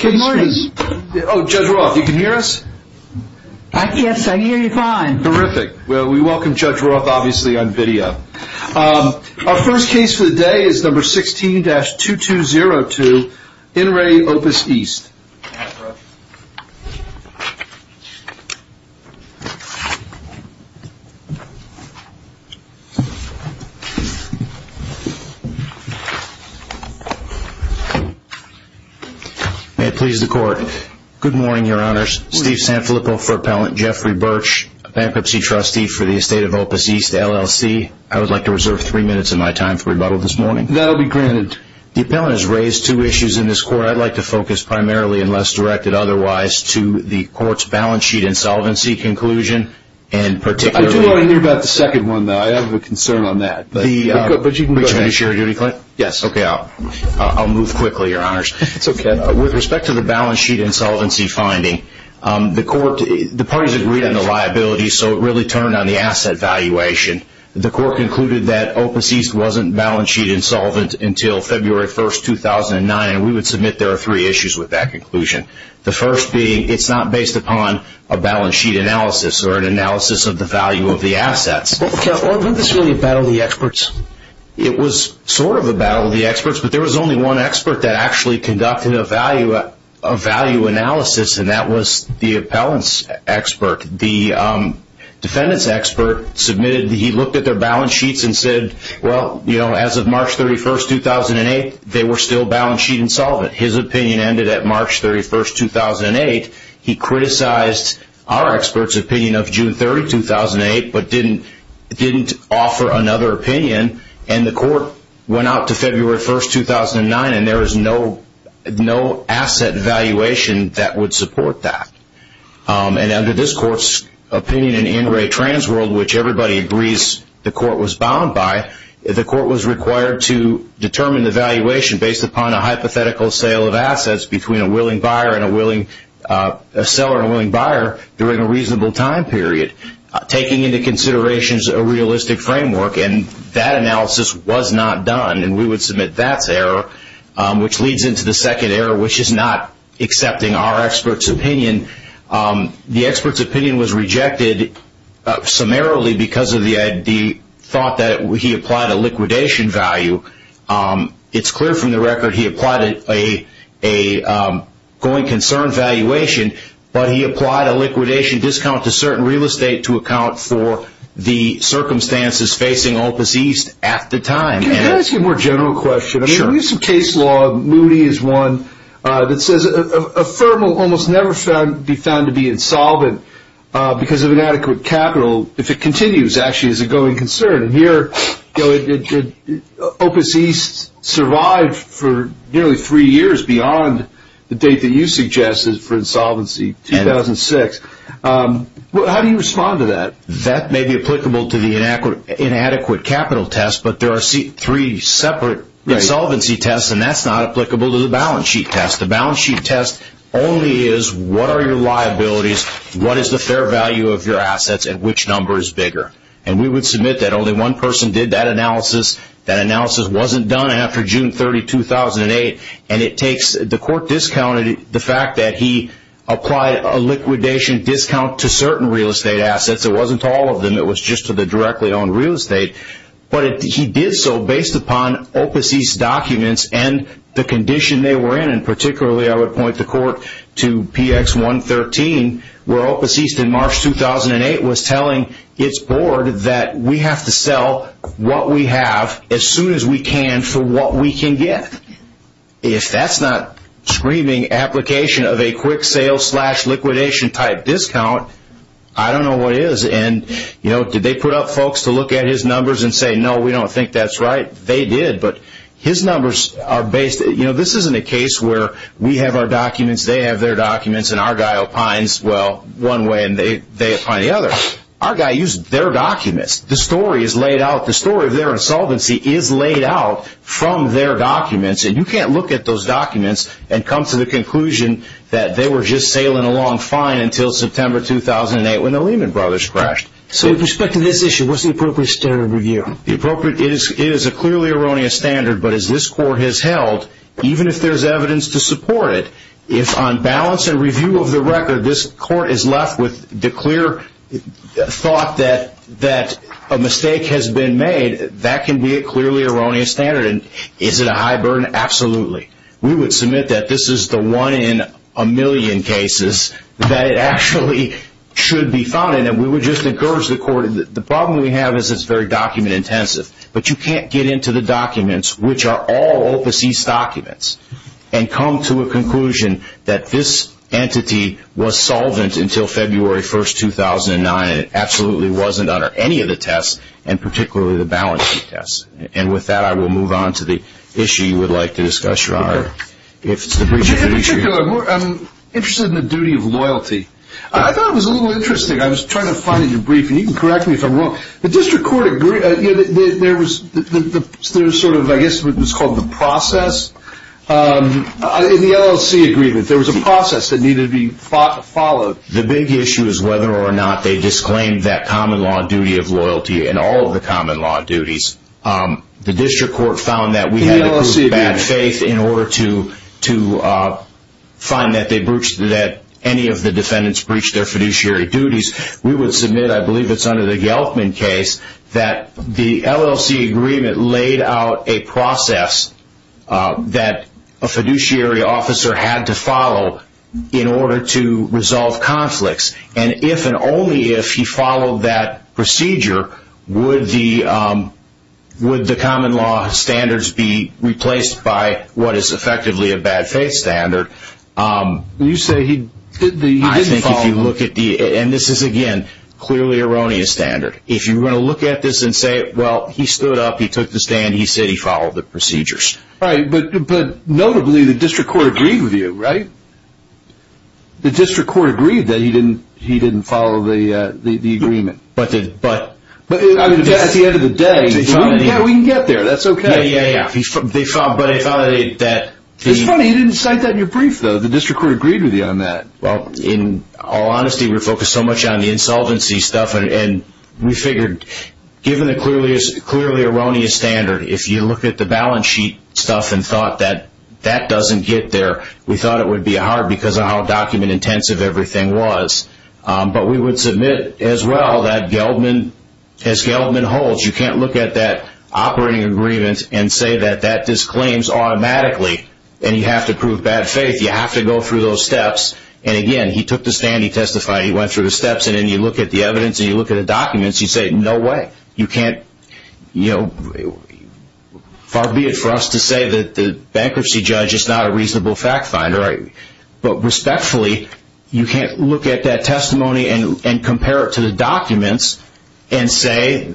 Good morning. Judge Roth, you can hear us? Yes, I hear you fine. Terrific. Well, we welcome Judge Roth obviously on video. Our first case for the day is number 16-2202 in Re Opus East. May it please the court. Good morning, Your Honors. Steve Sanfilippo for Appellant Jeffrey Birch, a bankruptcy trustee for the estate of Opus East LLC. I would like to reserve three minutes of my time for rebuttal this morning. That will be granted. The appellant has raised two issues in this court. I'd like to focus primarily, unless directed otherwise, to the court's balance sheet insolvency conclusion, and particularly... I do want to hear about the second one, though. I have a concern on that. Yes, okay. I'll move quickly, Your Honors. With respect to the balance sheet insolvency finding, the parties agreed on the liability, so it really turned on the asset valuation. The court concluded that Opus East wasn't balance sheet insolvent until February 1, 2009, and we would submit there are three issues with that conclusion. The first being it's not based upon a balance sheet analysis or an analysis of the value of the assets. Wasn't this really a battle of the experts? It was sort of a battle of the experts, but there was only one expert that actually conducted a value analysis, and that was the appellant's expert. The defendant's expert submitted. He looked at their balance sheets and said, well, you know, as of March 31, 2008, they were still balance sheet insolvent. His opinion ended at March 31, 2008. He criticized our expert's opinion of June 30, 2008, but didn't offer another opinion, and the court went out to February 1, 2009, and there was no asset valuation that would support that. And under this court's opinion in In Re Trans World, which everybody agrees the court was bound by, the court was required to determine the valuation based upon a hypothetical sale of assets between a seller and a willing buyer during a reasonable time period, taking into consideration a realistic framework, and that analysis was not done, and we would submit that's error, which leads into the second error, which is not accepting our expert's opinion. The expert's opinion was rejected summarily because of the thought that he applied a liquidation value. It's clear from the record he applied a going concern valuation, but he applied a liquidation discount to certain real estate to account for the circumstances facing Opus East at the time. Can I ask you a more general question? Sure. I mean, in recent case law, Moody is one that says a firm will almost never be found to be insolvent because of inadequate capital if it continues, actually, as a going concern. And here Opus East survived for nearly three years beyond the date that you suggested for insolvency, 2006. How do you respond to that? That may be applicable to the inadequate capital test, but there are three separate insolvency tests, and that's not applicable to the balance sheet test. The balance sheet test only is what are your liabilities, what is the fair value of your assets, and which number is bigger. And we would submit that only one person did that analysis. That analysis wasn't done after June 30, 2008. And the court discounted the fact that he applied a liquidation discount to certain real estate assets. It wasn't to all of them. It was just to the directly owned real estate. But he did so based upon Opus East documents and the condition they were in, and particularly I would point the court to PX 113, where Opus East in March 2008 was telling its board that we have to sell what we have as soon as we can for what we can get. If that's not screaming application of a quick sale slash liquidation type discount, I don't know what is. And, you know, did they put up folks to look at his numbers and say, no, we don't think that's right? They did, but his numbers are based. You know, this isn't a case where we have our documents, they have their documents, and our guy opines, well, one way and they opine the other. Our guy used their documents. The story is laid out. The story of their insolvency is laid out from their documents. And you can't look at those documents and come to the conclusion that they were just sailing along fine until September 2008 when the Lehman Brothers crashed. So with respect to this issue, what's the appropriate standard of review? It is a clearly erroneous standard, but as this court has held, even if there's evidence to support it, if on balance and review of the record this court is left with the clear thought that a mistake has been made, that can be a clearly erroneous standard. And is it a high burden? Absolutely. We would submit that this is the one in a million cases that it actually should be found in, and we would just encourage the court. The problem we have is it's very document-intensive, but you can't get into the documents, which are all overseas documents, and come to a conclusion that this entity was solvent until February 1, 2009. It absolutely wasn't under any of the tests, and particularly the balancing tests. And with that, I will move on to the issue you would like to discuss, Your Honor. In particular, I'm interested in the duty of loyalty. I thought it was a little interesting. I was trying to find it in your briefing. You can correct me if I'm wrong. The district court agreed. There was sort of, I guess, what was called the process. In the LLC agreement, there was a process that needed to be followed. The big issue is whether or not they disclaimed that common law duty of loyalty in all of the common law duties. The district court found that we had to prove bad faith in order to find that any of the defendants breached their fiduciary duties. We would submit, I believe it's under the Geltman case, that the LLC agreement laid out a process that a fiduciary officer had to follow in order to resolve conflicts. However, would the common law standards be replaced by what is effectively a bad faith standard? You say he didn't follow. I think if you look at the, and this is, again, clearly erroneous standard. If you were going to look at this and say, well, he stood up, he took the stand, he said he followed the procedures. Right. But notably, the district court agreed with you, right? The district court agreed that he didn't follow the agreement. But at the end of the day, we can get there. That's okay. Yeah, yeah, yeah. It's funny, you didn't cite that in your brief, though. The district court agreed with you on that. Well, in all honesty, we're focused so much on the insolvency stuff, and we figured given the clearly erroneous standard, if you look at the balance sheet stuff and thought that that doesn't get there, we thought it would be hard because of how document-intensive everything was. But we would submit as well that as Geldman holds, you can't look at that operating agreement and say that that disclaims automatically and you have to prove bad faith. You have to go through those steps. And, again, he took the stand, he testified, he went through the steps, and then you look at the evidence and you look at the documents, you say, no way. You can't, you know, far be it for us to say that the bankruptcy judge is not a reasonable fact finder. But respectfully, you can't look at that testimony and compare it to the documents and say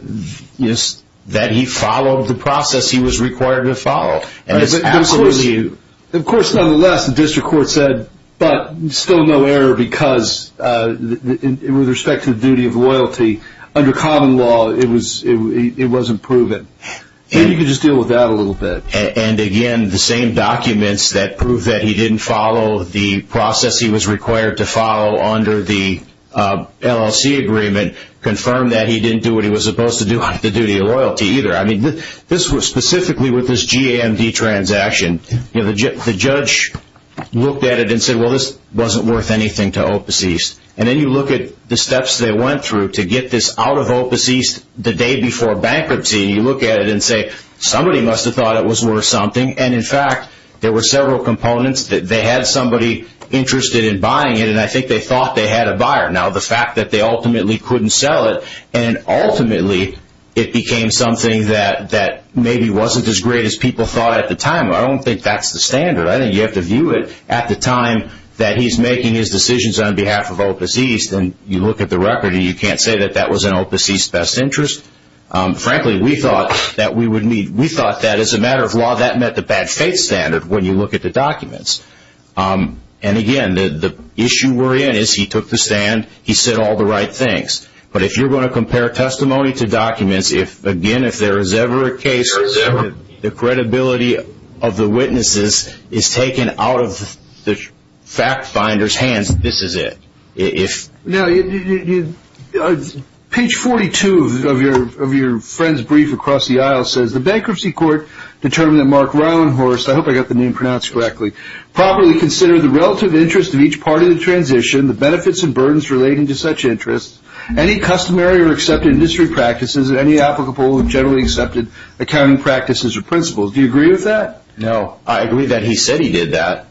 that he followed the process he was required to follow. Of course, nonetheless, the district court said, but still no error because with respect to the duty of loyalty, under common law it wasn't proven. Maybe you could just deal with that a little bit. And, again, the same documents that prove that he didn't follow the process he was required to follow under the LLC agreement confirmed that he didn't do what he was supposed to do, the duty of loyalty, either. I mean, this was specifically with this GAMD transaction. The judge looked at it and said, well, this wasn't worth anything to Opus East. And then you look at the steps they went through to get this out of Opus East the day before bankruptcy and you look at it and say somebody must have thought it was worth something. And, in fact, there were several components that they had somebody interested in buying it and I think they thought they had a buyer. Now, the fact that they ultimately couldn't sell it and ultimately it became something that maybe wasn't as great as people thought at the time, I don't think that's the standard. I think you have to view it at the time that he's making his decisions on behalf of Opus East. And you look at the record and you can't say that that was in Opus East's best interest. Frankly, we thought that as a matter of law that met the bad faith standard when you look at the documents. And, again, the issue we're in is he took the stand, he said all the right things. But if you're going to compare testimony to documents, again, if there is ever a case where the credibility of the witnesses is taken out of the fact finder's hands, this is it. Now, page 42 of your friend's brief across the aisle says, The Bankruptcy Court determined that Mark Reinhorst, I hope I got the name pronounced correctly, properly considered the relative interest of each part of the transition, the benefits and burdens relating to such interests, any customary or accepted industry practices, and any applicable or generally accepted accounting practices or principles. Do you agree with that? No. I agree that he said he did that.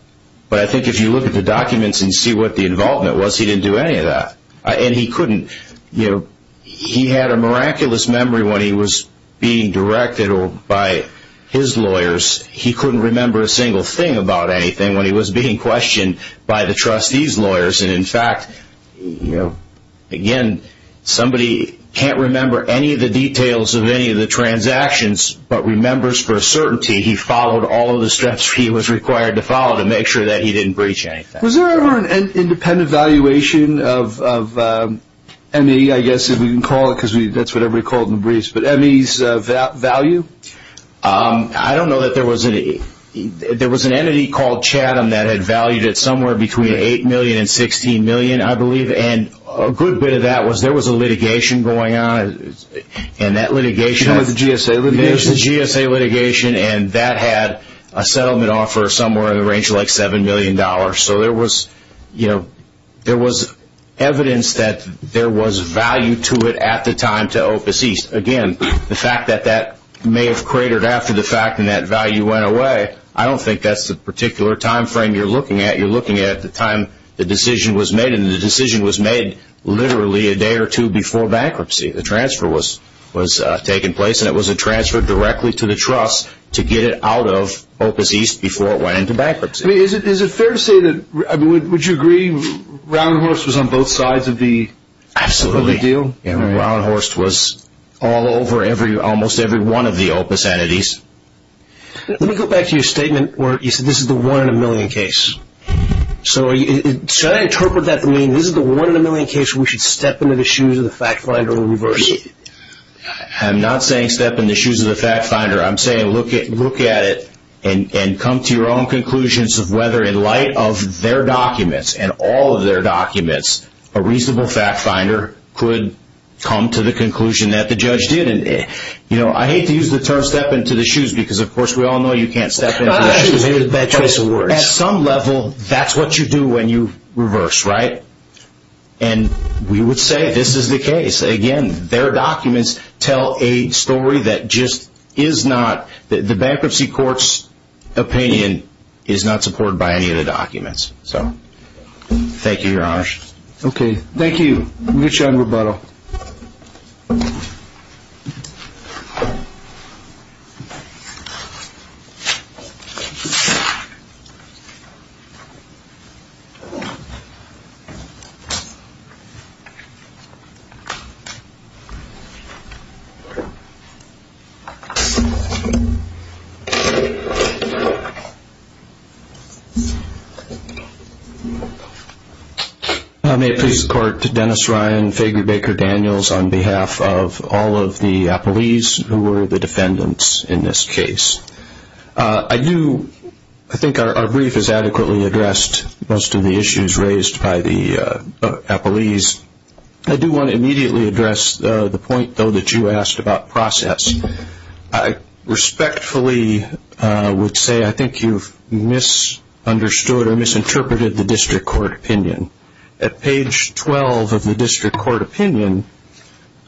But I think if you look at the documents and see what the involvement was, he didn't do any of that. And he couldn't, you know, he had a miraculous memory when he was being directed by his lawyers. He couldn't remember a single thing about anything when he was being questioned by the trustee's lawyers. And, in fact, you know, again, somebody can't remember any of the details of any of the transactions, but remembers for a certainty he followed all of the steps he was required to follow to make sure that he didn't breach anything. Was there ever an independent valuation of ME, I guess, if we can call it, because that's whatever we call them in briefs, but ME's value? I don't know that there was any. There was an entity called Chatham that had valued it somewhere between $8 million and $16 million, I believe. And a good bit of that was there was a litigation going on. And that litigation was the GSA litigation. It was the GSA litigation, and that had a settlement offer somewhere in the range of like $7 million. So there was, you know, there was evidence that there was value to it at the time to Opus East. Again, the fact that that may have cratered after the fact and that value went away, I don't think that's the particular time frame you're looking at. You're looking at the time the decision was made, and the decision was made literally a day or two before bankruptcy. The transfer was taking place, and it was a transfer directly to the trust to get it out of Opus East before it went into bankruptcy. Is it fair to say that, I mean, would you agree Roundhorst was on both sides of the deal? Absolutely. Roundhorst was all over almost every one of the Opus entities. Let me go back to your statement where you said this is the one-in-a-million case. So should I interpret that to mean this is the one-in-a-million case where we should step into the shoes of the fact finder and reverse it? I'm not saying step in the shoes of the fact finder. I'm saying look at it and come to your own conclusions of whether in light of their documents and all of their documents a reasonable fact finder could come to the conclusion that the judge did. I hate to use the term step into the shoes because, of course, we all know you can't step into the shoes. At some level, that's what you do when you reverse, right? And we would say this is the case. Again, their documents tell a story that just is not – the bankruptcy court's opinion is not supported by any of the documents. So thank you, Your Honor. Okay. Thank you. We'll get you on rebuttal. Thank you. May it please the Court, Dennis Ryan, Fager, Baker, Daniels, on behalf of all of the appellees who were the defendants in this case. I do – I think our brief has adequately addressed most of the issues raised by the appellees. I do want to immediately address the point, though, that you asked about process. I respectfully would say I think you've misunderstood or misinterpreted the district court opinion. At page 12 of the district court opinion,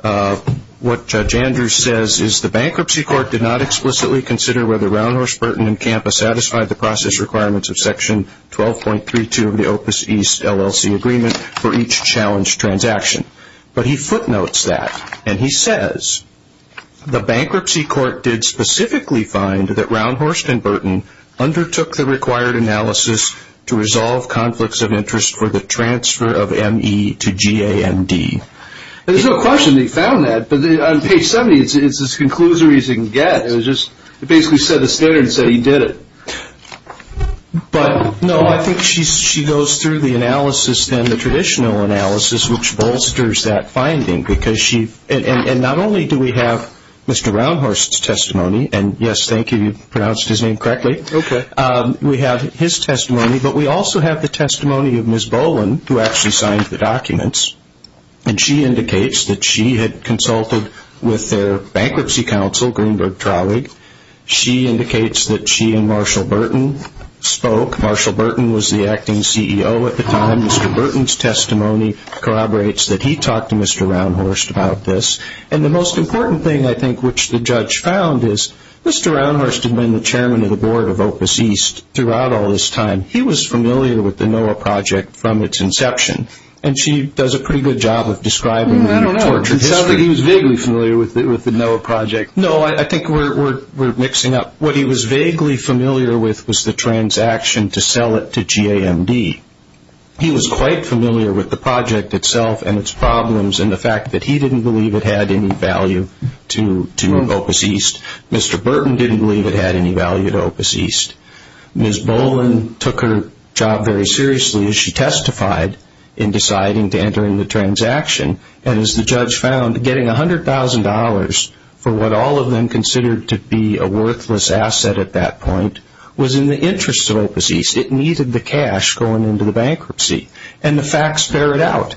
what Judge Andrews says is the bankruptcy court did not explicitly consider whether Roundhorse, Burton, and Campa satisfied the process requirements of Section 12.32 of the Opus East LLC agreement for each challenge transaction. But he footnotes that, and he says, the bankruptcy court did specifically find that Roundhorse and Burton undertook the required analysis to resolve conflicts of interest for the transfer of M.E. to G.A.M.D. There's no question they found that, but on page 70, it's as conclusive as you can get. It was just – it basically said the standard and said he did it. But, no, I think she goes through the analysis, then the traditional analysis, which bolsters that finding because she – and not only do we have Mr. Roundhorse's testimony, and, yes, thank you, you pronounced his name correctly. Okay. We have his testimony, but we also have the testimony of Ms. Boland, who actually signed the documents, and she indicates that she had consulted with their bankruptcy counsel, Greenberg Traulig. She indicates that she and Marshall Burton spoke. Marshall Burton was the acting CEO at the time. Mr. Burton's testimony corroborates that he talked to Mr. Roundhorse about this, and the most important thing, I think, which the judge found is Mr. Roundhorse had been the chairman of the board of Opus East throughout all this time. He was familiar with the NOAA project from its inception, and she does a pretty good job of describing the torture history. I don't know. It sounds like he was vaguely familiar with the NOAA project. No, I think we're mixing up. What he was vaguely familiar with was the transaction to sell it to G.A.M.D. He was quite familiar with the project itself and its problems and the fact that he didn't believe it had any value to Opus East. Mr. Burton didn't believe it had any value to Opus East. Ms. Boland took her job very seriously as she testified in deciding to enter in the transaction, and as the judge found, getting $100,000 for what all of them considered to be a worthless asset at that point was in the interest of Opus East. It needed the cash going into the bankruptcy, and the facts bear it out.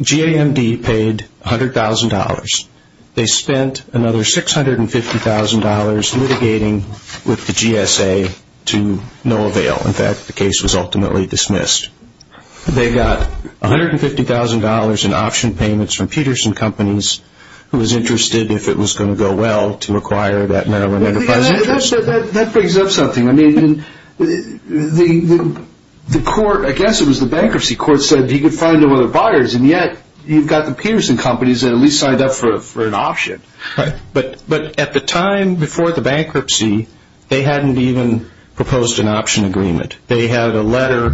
G.A.M.D. paid $100,000. They spent another $650,000 litigating with the GSA to no avail. In fact, the case was ultimately dismissed. They got $150,000 in option payments from Peterson Companies, who was interested if it was going to go well to acquire that Maryland Enterprise interest. That brings up something. I guess it was the bankruptcy court said he could find no other buyers, and yet you've got the Peterson Companies that at least signed up for an option. Right. But at the time before the bankruptcy, they hadn't even proposed an option agreement. They had a letter,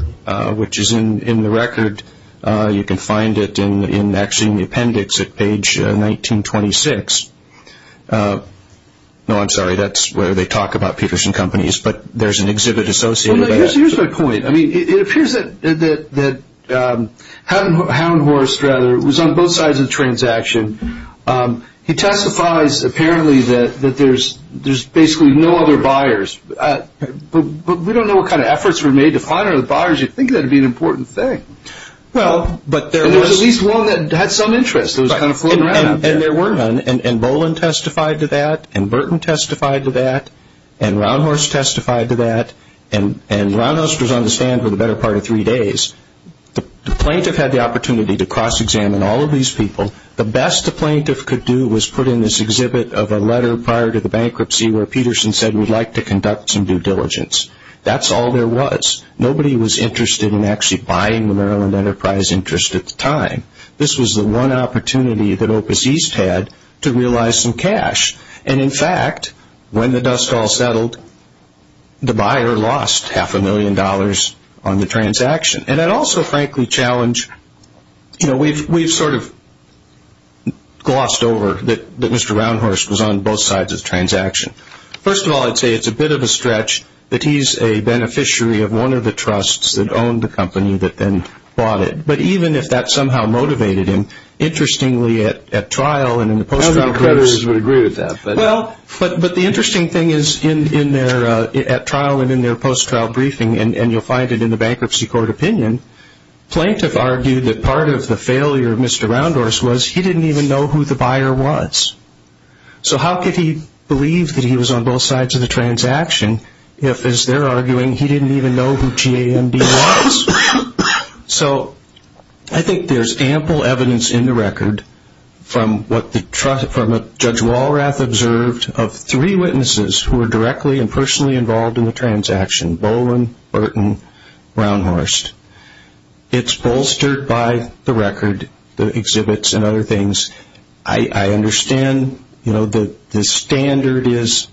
which is in the record. You can find it actually in the appendix at page 1926. No, I'm sorry, that's where they talk about Peterson Companies, but there's an exhibit associated with that. Here's my point. It appears that Hound Horse was on both sides of the transaction. He testifies apparently that there's basically no other buyers, but we don't know what kind of efforts were made to find other buyers. You'd think that would be an important thing. Well, but there was. There was at least one that had some interest. And there were none, and Boland testified to that, and Burton testified to that, and Round Horse testified to that, and Round Horse was on the stand for the better part of three days. The plaintiff had the opportunity to cross-examine all of these people. The best the plaintiff could do was put in this exhibit of a letter prior to the bankruptcy where Peterson said we'd like to conduct some due diligence. That's all there was. Nobody was interested in actually buying the Maryland Enterprise interest at the time. This was the one opportunity that Opus East had to realize some cash. And, in fact, when the dust all settled, the buyer lost half a million dollars on the transaction. And I'd also frankly challenge, you know, we've sort of glossed over that Mr. Round Horse was on both sides of the transaction. First of all, I'd say it's a bit of a stretch that he's a beneficiary of one of the trusts that owned the company that then bought it. But even if that somehow motivated him, interestingly at trial and in the post-trial briefs. I don't think the creditors would agree with that. Well, but the interesting thing is at trial and in their post-trial briefing, and you'll find it in the bankruptcy court opinion, plaintiff argued that part of the failure of Mr. Round Horse was he didn't even know who the buyer was. So how could he believe that he was on both sides of the transaction if, as they're arguing, he didn't even know who GAMD was? So I think there's ample evidence in the record from what Judge Walrath observed of three witnesses who were directly and personally involved in the transaction, Boland, Burton, Round Horse. It's bolstered by the record, the exhibits and other things. I understand, you know, the standard is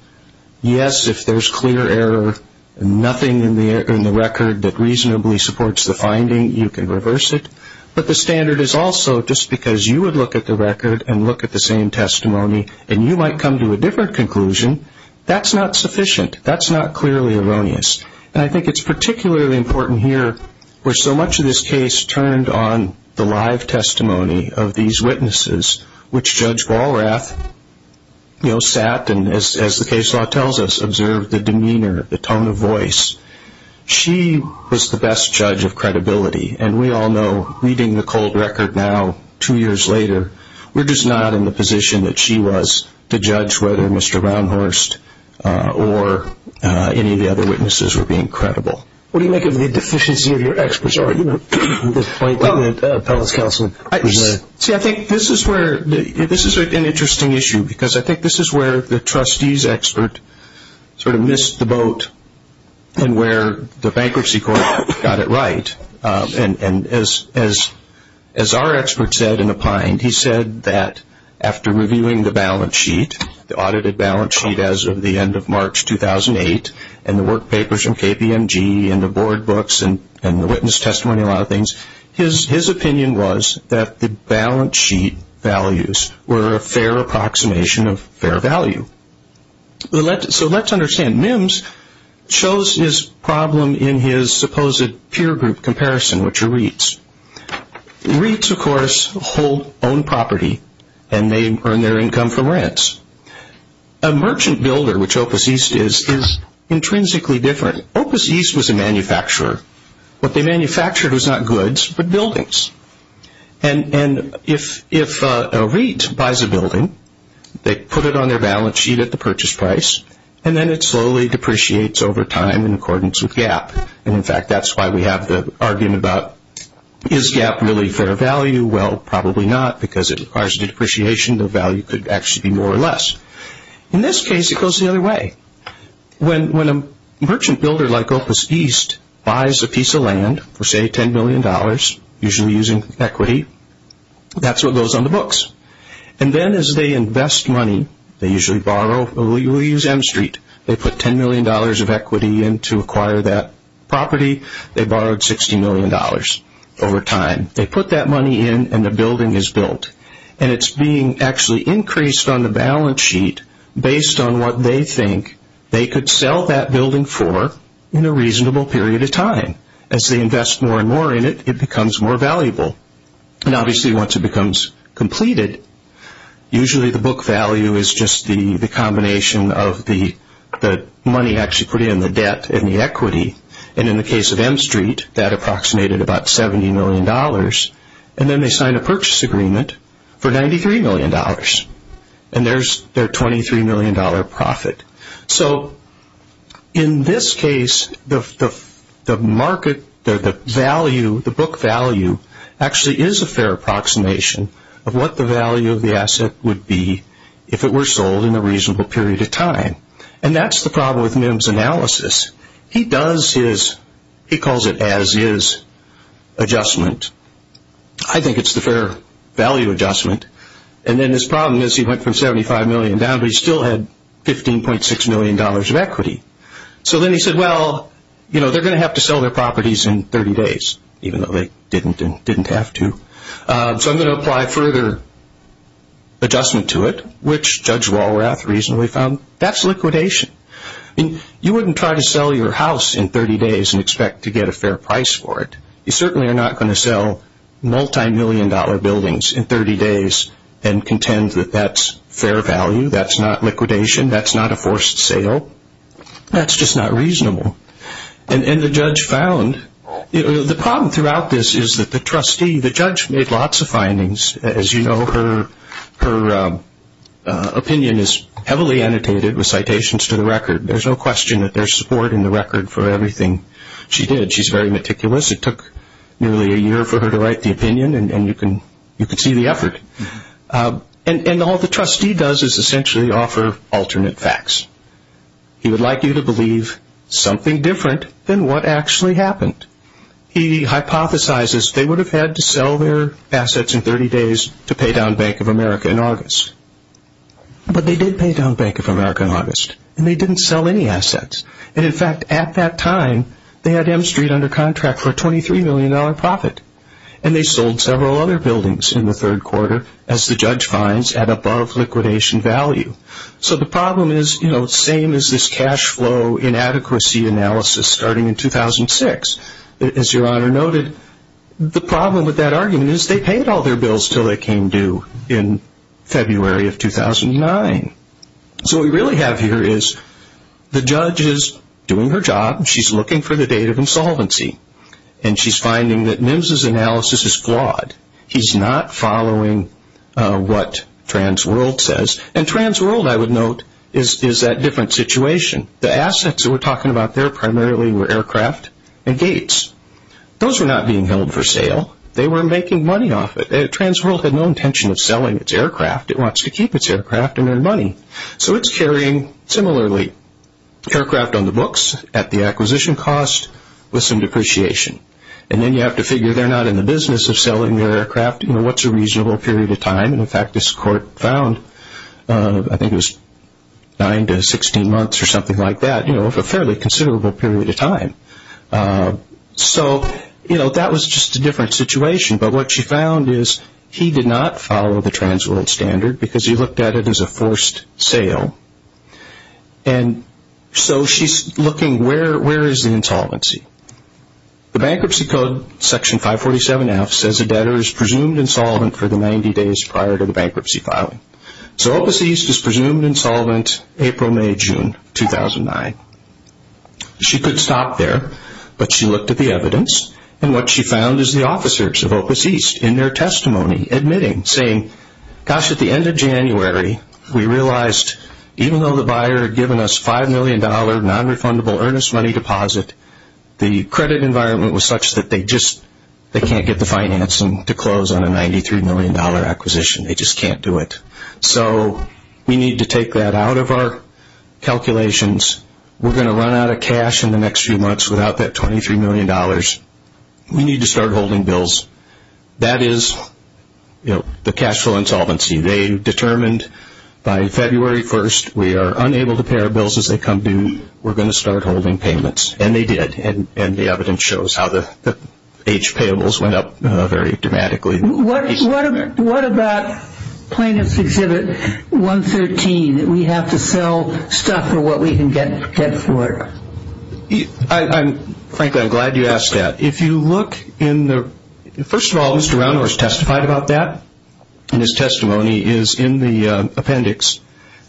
yes, if there's clear error, nothing in the record that reasonably supports the finding, you can reverse it. But the standard is also just because you would look at the record and look at the same testimony and you might come to a different conclusion, that's not sufficient. That's not clearly erroneous. And I think it's particularly important here where so much of this case turned on the live testimony of these witnesses, which Judge Walrath, you know, sat and, as the case law tells us, observed the demeanor, the tone of voice. She was the best judge of credibility. And we all know, reading the cold record now, two years later, we're just not in the position that she was to judge whether Mr. Round Horse or any of the other witnesses were being credible. What do you make of the deficiency of your experts, or, you know, the point that the appellate's counsel presented? See, I think this is where, this is an interesting issue because I think this is where the trustee's expert sort of missed the boat and where the bankruptcy court got it right. And as our expert said in a pint, he said that after reviewing the balance sheet, the audited balance sheet as of the end of March 2008, and the work papers from KPMG and the board books and the witness testimony, a lot of things, his opinion was that the balance sheet values were a fair approximation of fair value. So let's understand. Mims chose his problem in his supposed peer group comparison, which are REITs. REITs, of course, hold own property, and they earn their income from rents. A merchant builder, which Opus East is, is intrinsically different. Opus East was a manufacturer. What they manufactured was not goods but buildings. And if a REIT buys a building, they put it on their balance sheet at the purchase price, and then it slowly depreciates over time in accordance with GAAP. And, in fact, that's why we have the argument about is GAAP really fair value? Well, probably not because it requires a depreciation. The value could actually be more or less. In this case, it goes the other way. When a merchant builder like Opus East buys a piece of land for, say, $10 million, usually using equity, that's what goes on the books. And then as they invest money, they usually borrow. We'll use M Street. They put $10 million of equity in to acquire that property. They borrowed $60 million over time. They put that money in, and the building is built. And it's being actually increased on the balance sheet based on what they think they could sell that building for in a reasonable period of time. As they invest more and more in it, it becomes more valuable. And, obviously, once it becomes completed, usually the book value is just the combination of the money actually put in, the debt and the equity. And in the case of M Street, that approximated about $70 million. And then they signed a purchase agreement for $93 million. And there's their $23 million profit. So, in this case, the book value actually is a fair approximation of what the value of the asset would be if it were sold in a reasonable period of time. And that's the problem with Mim's analysis. He does his – he calls it as his adjustment. I think it's the fair value adjustment. And then his problem is he went from $75 million down, but he still had $15.6 million of equity. So then he said, well, you know, they're going to have to sell their properties in 30 days, even though they didn't have to. So I'm going to apply further adjustment to it, which Judge Walrath reasonably found. That's liquidation. You wouldn't try to sell your house in 30 days and expect to get a fair price for it. You certainly are not going to sell multimillion-dollar buildings in 30 days and contend that that's fair value. That's not liquidation. That's not a forced sale. That's just not reasonable. And the judge found – the problem throughout this is that the trustee, the judge made lots of findings. As you know, her opinion is heavily annotated with citations to the record. There's no question that there's support in the record for everything she did. She's very meticulous. It took nearly a year for her to write the opinion, and you can see the effort. And all the trustee does is essentially offer alternate facts. He would like you to believe something different than what actually happened. He hypothesizes they would have had to sell their assets in 30 days to pay down Bank of America in August. But they did pay down Bank of America in August, and they didn't sell any assets. And, in fact, at that time, they had M Street under contract for a $23 million profit, and they sold several other buildings in the third quarter, as the judge finds, at above liquidation value. So the problem is, you know, same as this cash flow inadequacy analysis starting in 2006. As Your Honor noted, the problem with that argument is they paid all their bills until they came due in February of 2009. So what we really have here is the judge is doing her job. She's looking for the date of insolvency, and she's finding that NIMS's analysis is flawed. He's not following what TransWorld says. And TransWorld, I would note, is that different situation. The assets that we're talking about there primarily were aircraft and gates. Those were not being held for sale. They were making money off it. TransWorld had no intention of selling its aircraft. It wants to keep its aircraft and earn money. So it's carrying, similarly, aircraft on the books at the acquisition cost with some depreciation. And then you have to figure they're not in the business of selling their aircraft. You know, what's a reasonable period of time? In fact, this court found, I think it was 9 to 16 months or something like that, you know, a fairly considerable period of time. So, you know, that was just a different situation. But what she found is he did not follow the TransWorld standard because he looked at it as a forced sale. And so she's looking where is the insolvency. The Bankruptcy Code, Section 547F, says a debtor is presumed insolvent for the 90 days prior to the bankruptcy filing. So Opus East is presumed insolvent April, May, June 2009. She could stop there. But she looked at the evidence. And what she found is the officers of Opus East in their testimony admitting, saying, gosh, at the end of January, we realized even though the buyer had given us $5 million non-refundable earnest money deposit, the credit environment was such that they just, they can't get the financing to close on a $93 million acquisition. They just can't do it. So we need to take that out of our calculations. We're going to run out of cash in the next few months without that $23 million. We need to start holding bills. That is, you know, the cash flow insolvency. They determined by February 1st, we are unable to pay our bills as they come due. We're going to start holding payments. And they did. And the evidence shows how the age payables went up very dramatically. What about Plaintiff's Exhibit 113, that we have to sell stuff for what we can get for it? Frankly, I'm glad you asked that. If you look in the – first of all, Mr. Roundhorse testified about that. And his testimony is in the appendix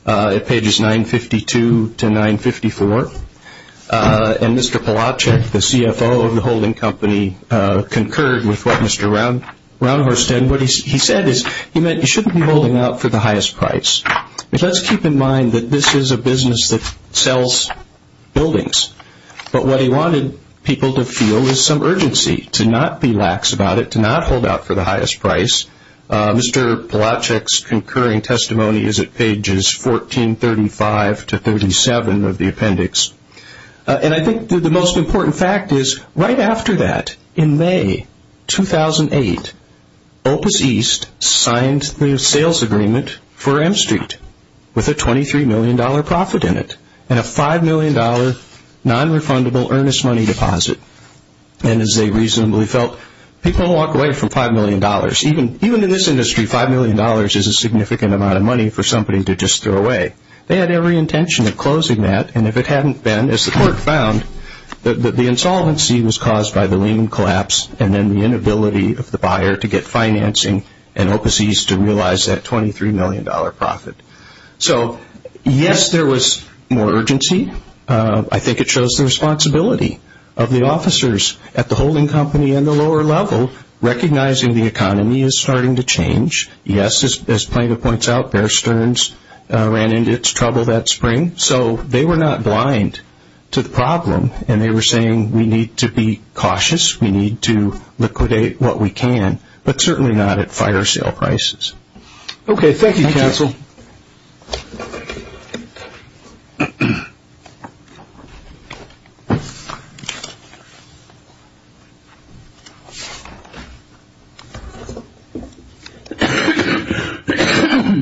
at pages 952 to 954. And Mr. Palachuk, the CFO of the holding company, concurred with what Mr. Roundhorse did. What he said is he meant you shouldn't be holding out for the highest price. Let's keep in mind that this is a business that sells buildings. But what he wanted people to feel was some urgency to not be lax about it, to not hold out for the highest price. Mr. Palachuk's concurring testimony is at pages 1435 to 1437 of the appendix. And I think the most important fact is right after that, in May 2008, Opus East signed the sales agreement for M Street with a $23 million profit in it and a $5 million non-refundable earnest money deposit. And as they reasonably felt, people walk away from $5 million. Even in this industry, $5 million is a significant amount of money for somebody to just throw away. They had every intention of closing that. And if it hadn't been, as the court found, that the insolvency was caused by the Lehman collapse and then the inability of the buyer to get financing and Opus East to realize that $23 million profit. So yes, there was more urgency. I think it shows the responsibility of the officers at the holding company and the lower level, recognizing the economy is starting to change. Yes, as Plaintiff points out, Bear Stearns ran into its trouble that spring. So they were not blind to the problem, and they were saying we need to be cautious, we need to liquidate what we can, but certainly not at fire sale prices. Okay, thank you, counsel.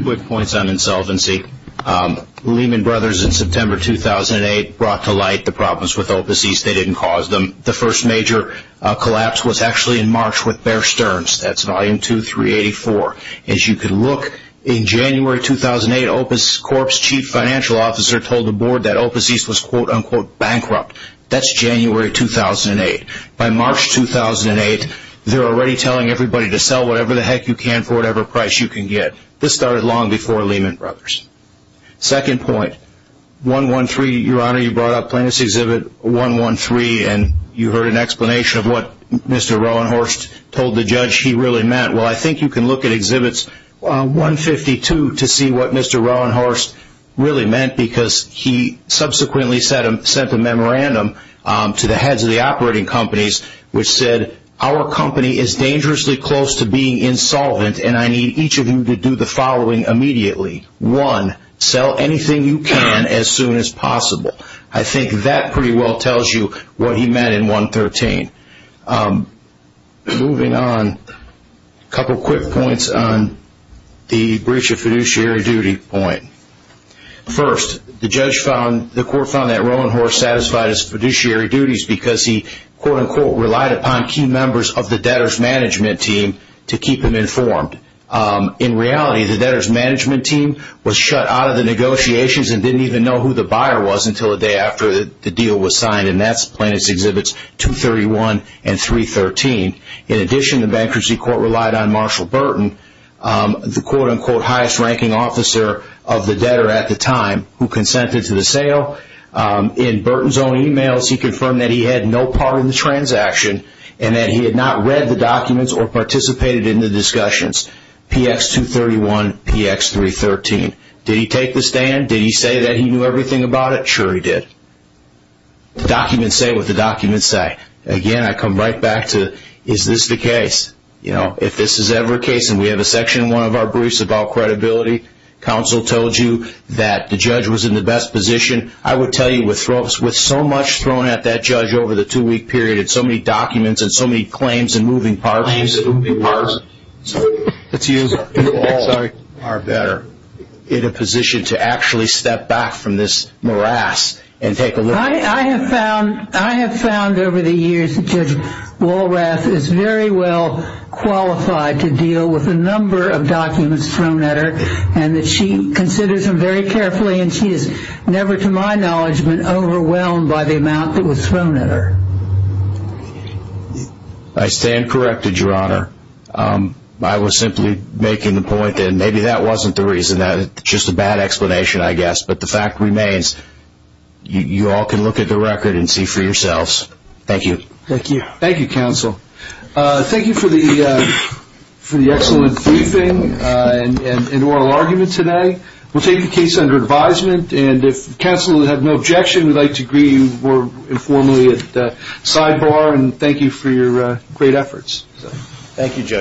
Quick points on insolvency. Lehman Brothers in September 2008 brought to light the problems with Opus East. They didn't cause them. The first major collapse was actually in March with Bear Stearns. That's volume 2384. As you can look, in January 2008, Opus Corp's chief financial officer told the board that Opus East was quote-unquote bankrupt. That's January 2008. By March 2008, they're already telling everybody to sell whatever the heck you can for whatever price you can get. This started long before Lehman Brothers. Second point, 113, Your Honor, you brought up Plaintiff's Exhibit 113, and you heard an explanation of what Mr. Roanhorse told the judge he really meant. Well, I think you can look at Exhibits 152 to see what Mr. Roanhorse really meant, because he subsequently sent a memorandum to the heads of the operating companies, which said our company is dangerously close to being insolvent, and I need each of you to do the following immediately. One, sell anything you can as soon as possible. I think that pretty well tells you what he meant in 113. Moving on, a couple quick points on the breach of fiduciary duty point. First, the court found that Roanhorse satisfied his fiduciary duties because he, quote-unquote, relied upon key members of the debtors' management team to keep him informed. In reality, the debtors' management team was shut out of the negotiations and didn't even know who the buyer was until a day after the deal was signed, and that's Plaintiff's Exhibits 231 and 313. In addition, the bankruptcy court relied on Marshall Burton, the quote-unquote highest-ranking officer of the debtor at the time, who consented to the sale. In Burton's own emails, he confirmed that he had no part in the transaction and that he had not read the documents or participated in the discussions. PX 231, PX 313. Did he take the stand? Did he say that he knew everything about it? Sure he did. The documents say what the documents say. Again, I come right back to, is this the case? You know, if this is ever a case, and we have a section in one of our briefs about credibility, counsel told you that the judge was in the best position. I would tell you, with so much thrown at that judge over the two-week period and so many documents and so many claims and moving parts, that you all are better in a position to actually step back from this morass and take a look. I have found over the years that Judge Walrath is very well qualified to deal with a number of documents thrown at her, and that she considers them very carefully, and she has never, to my knowledge, been overwhelmed by the amount that was thrown at her. I stand corrected, Your Honor. I was simply making the point that maybe that wasn't the reason, that it's just a bad explanation, I guess. But the fact remains, you all can look at the record and see for yourselves. Thank you. Thank you. Thank you, counsel. Thank you for the excellent briefing and oral argument today. We'll take the case under advisement, and if counsel have no objection, we'd like to greet you more informally at the sidebar, and thank you for your great efforts. Thank you, Judge.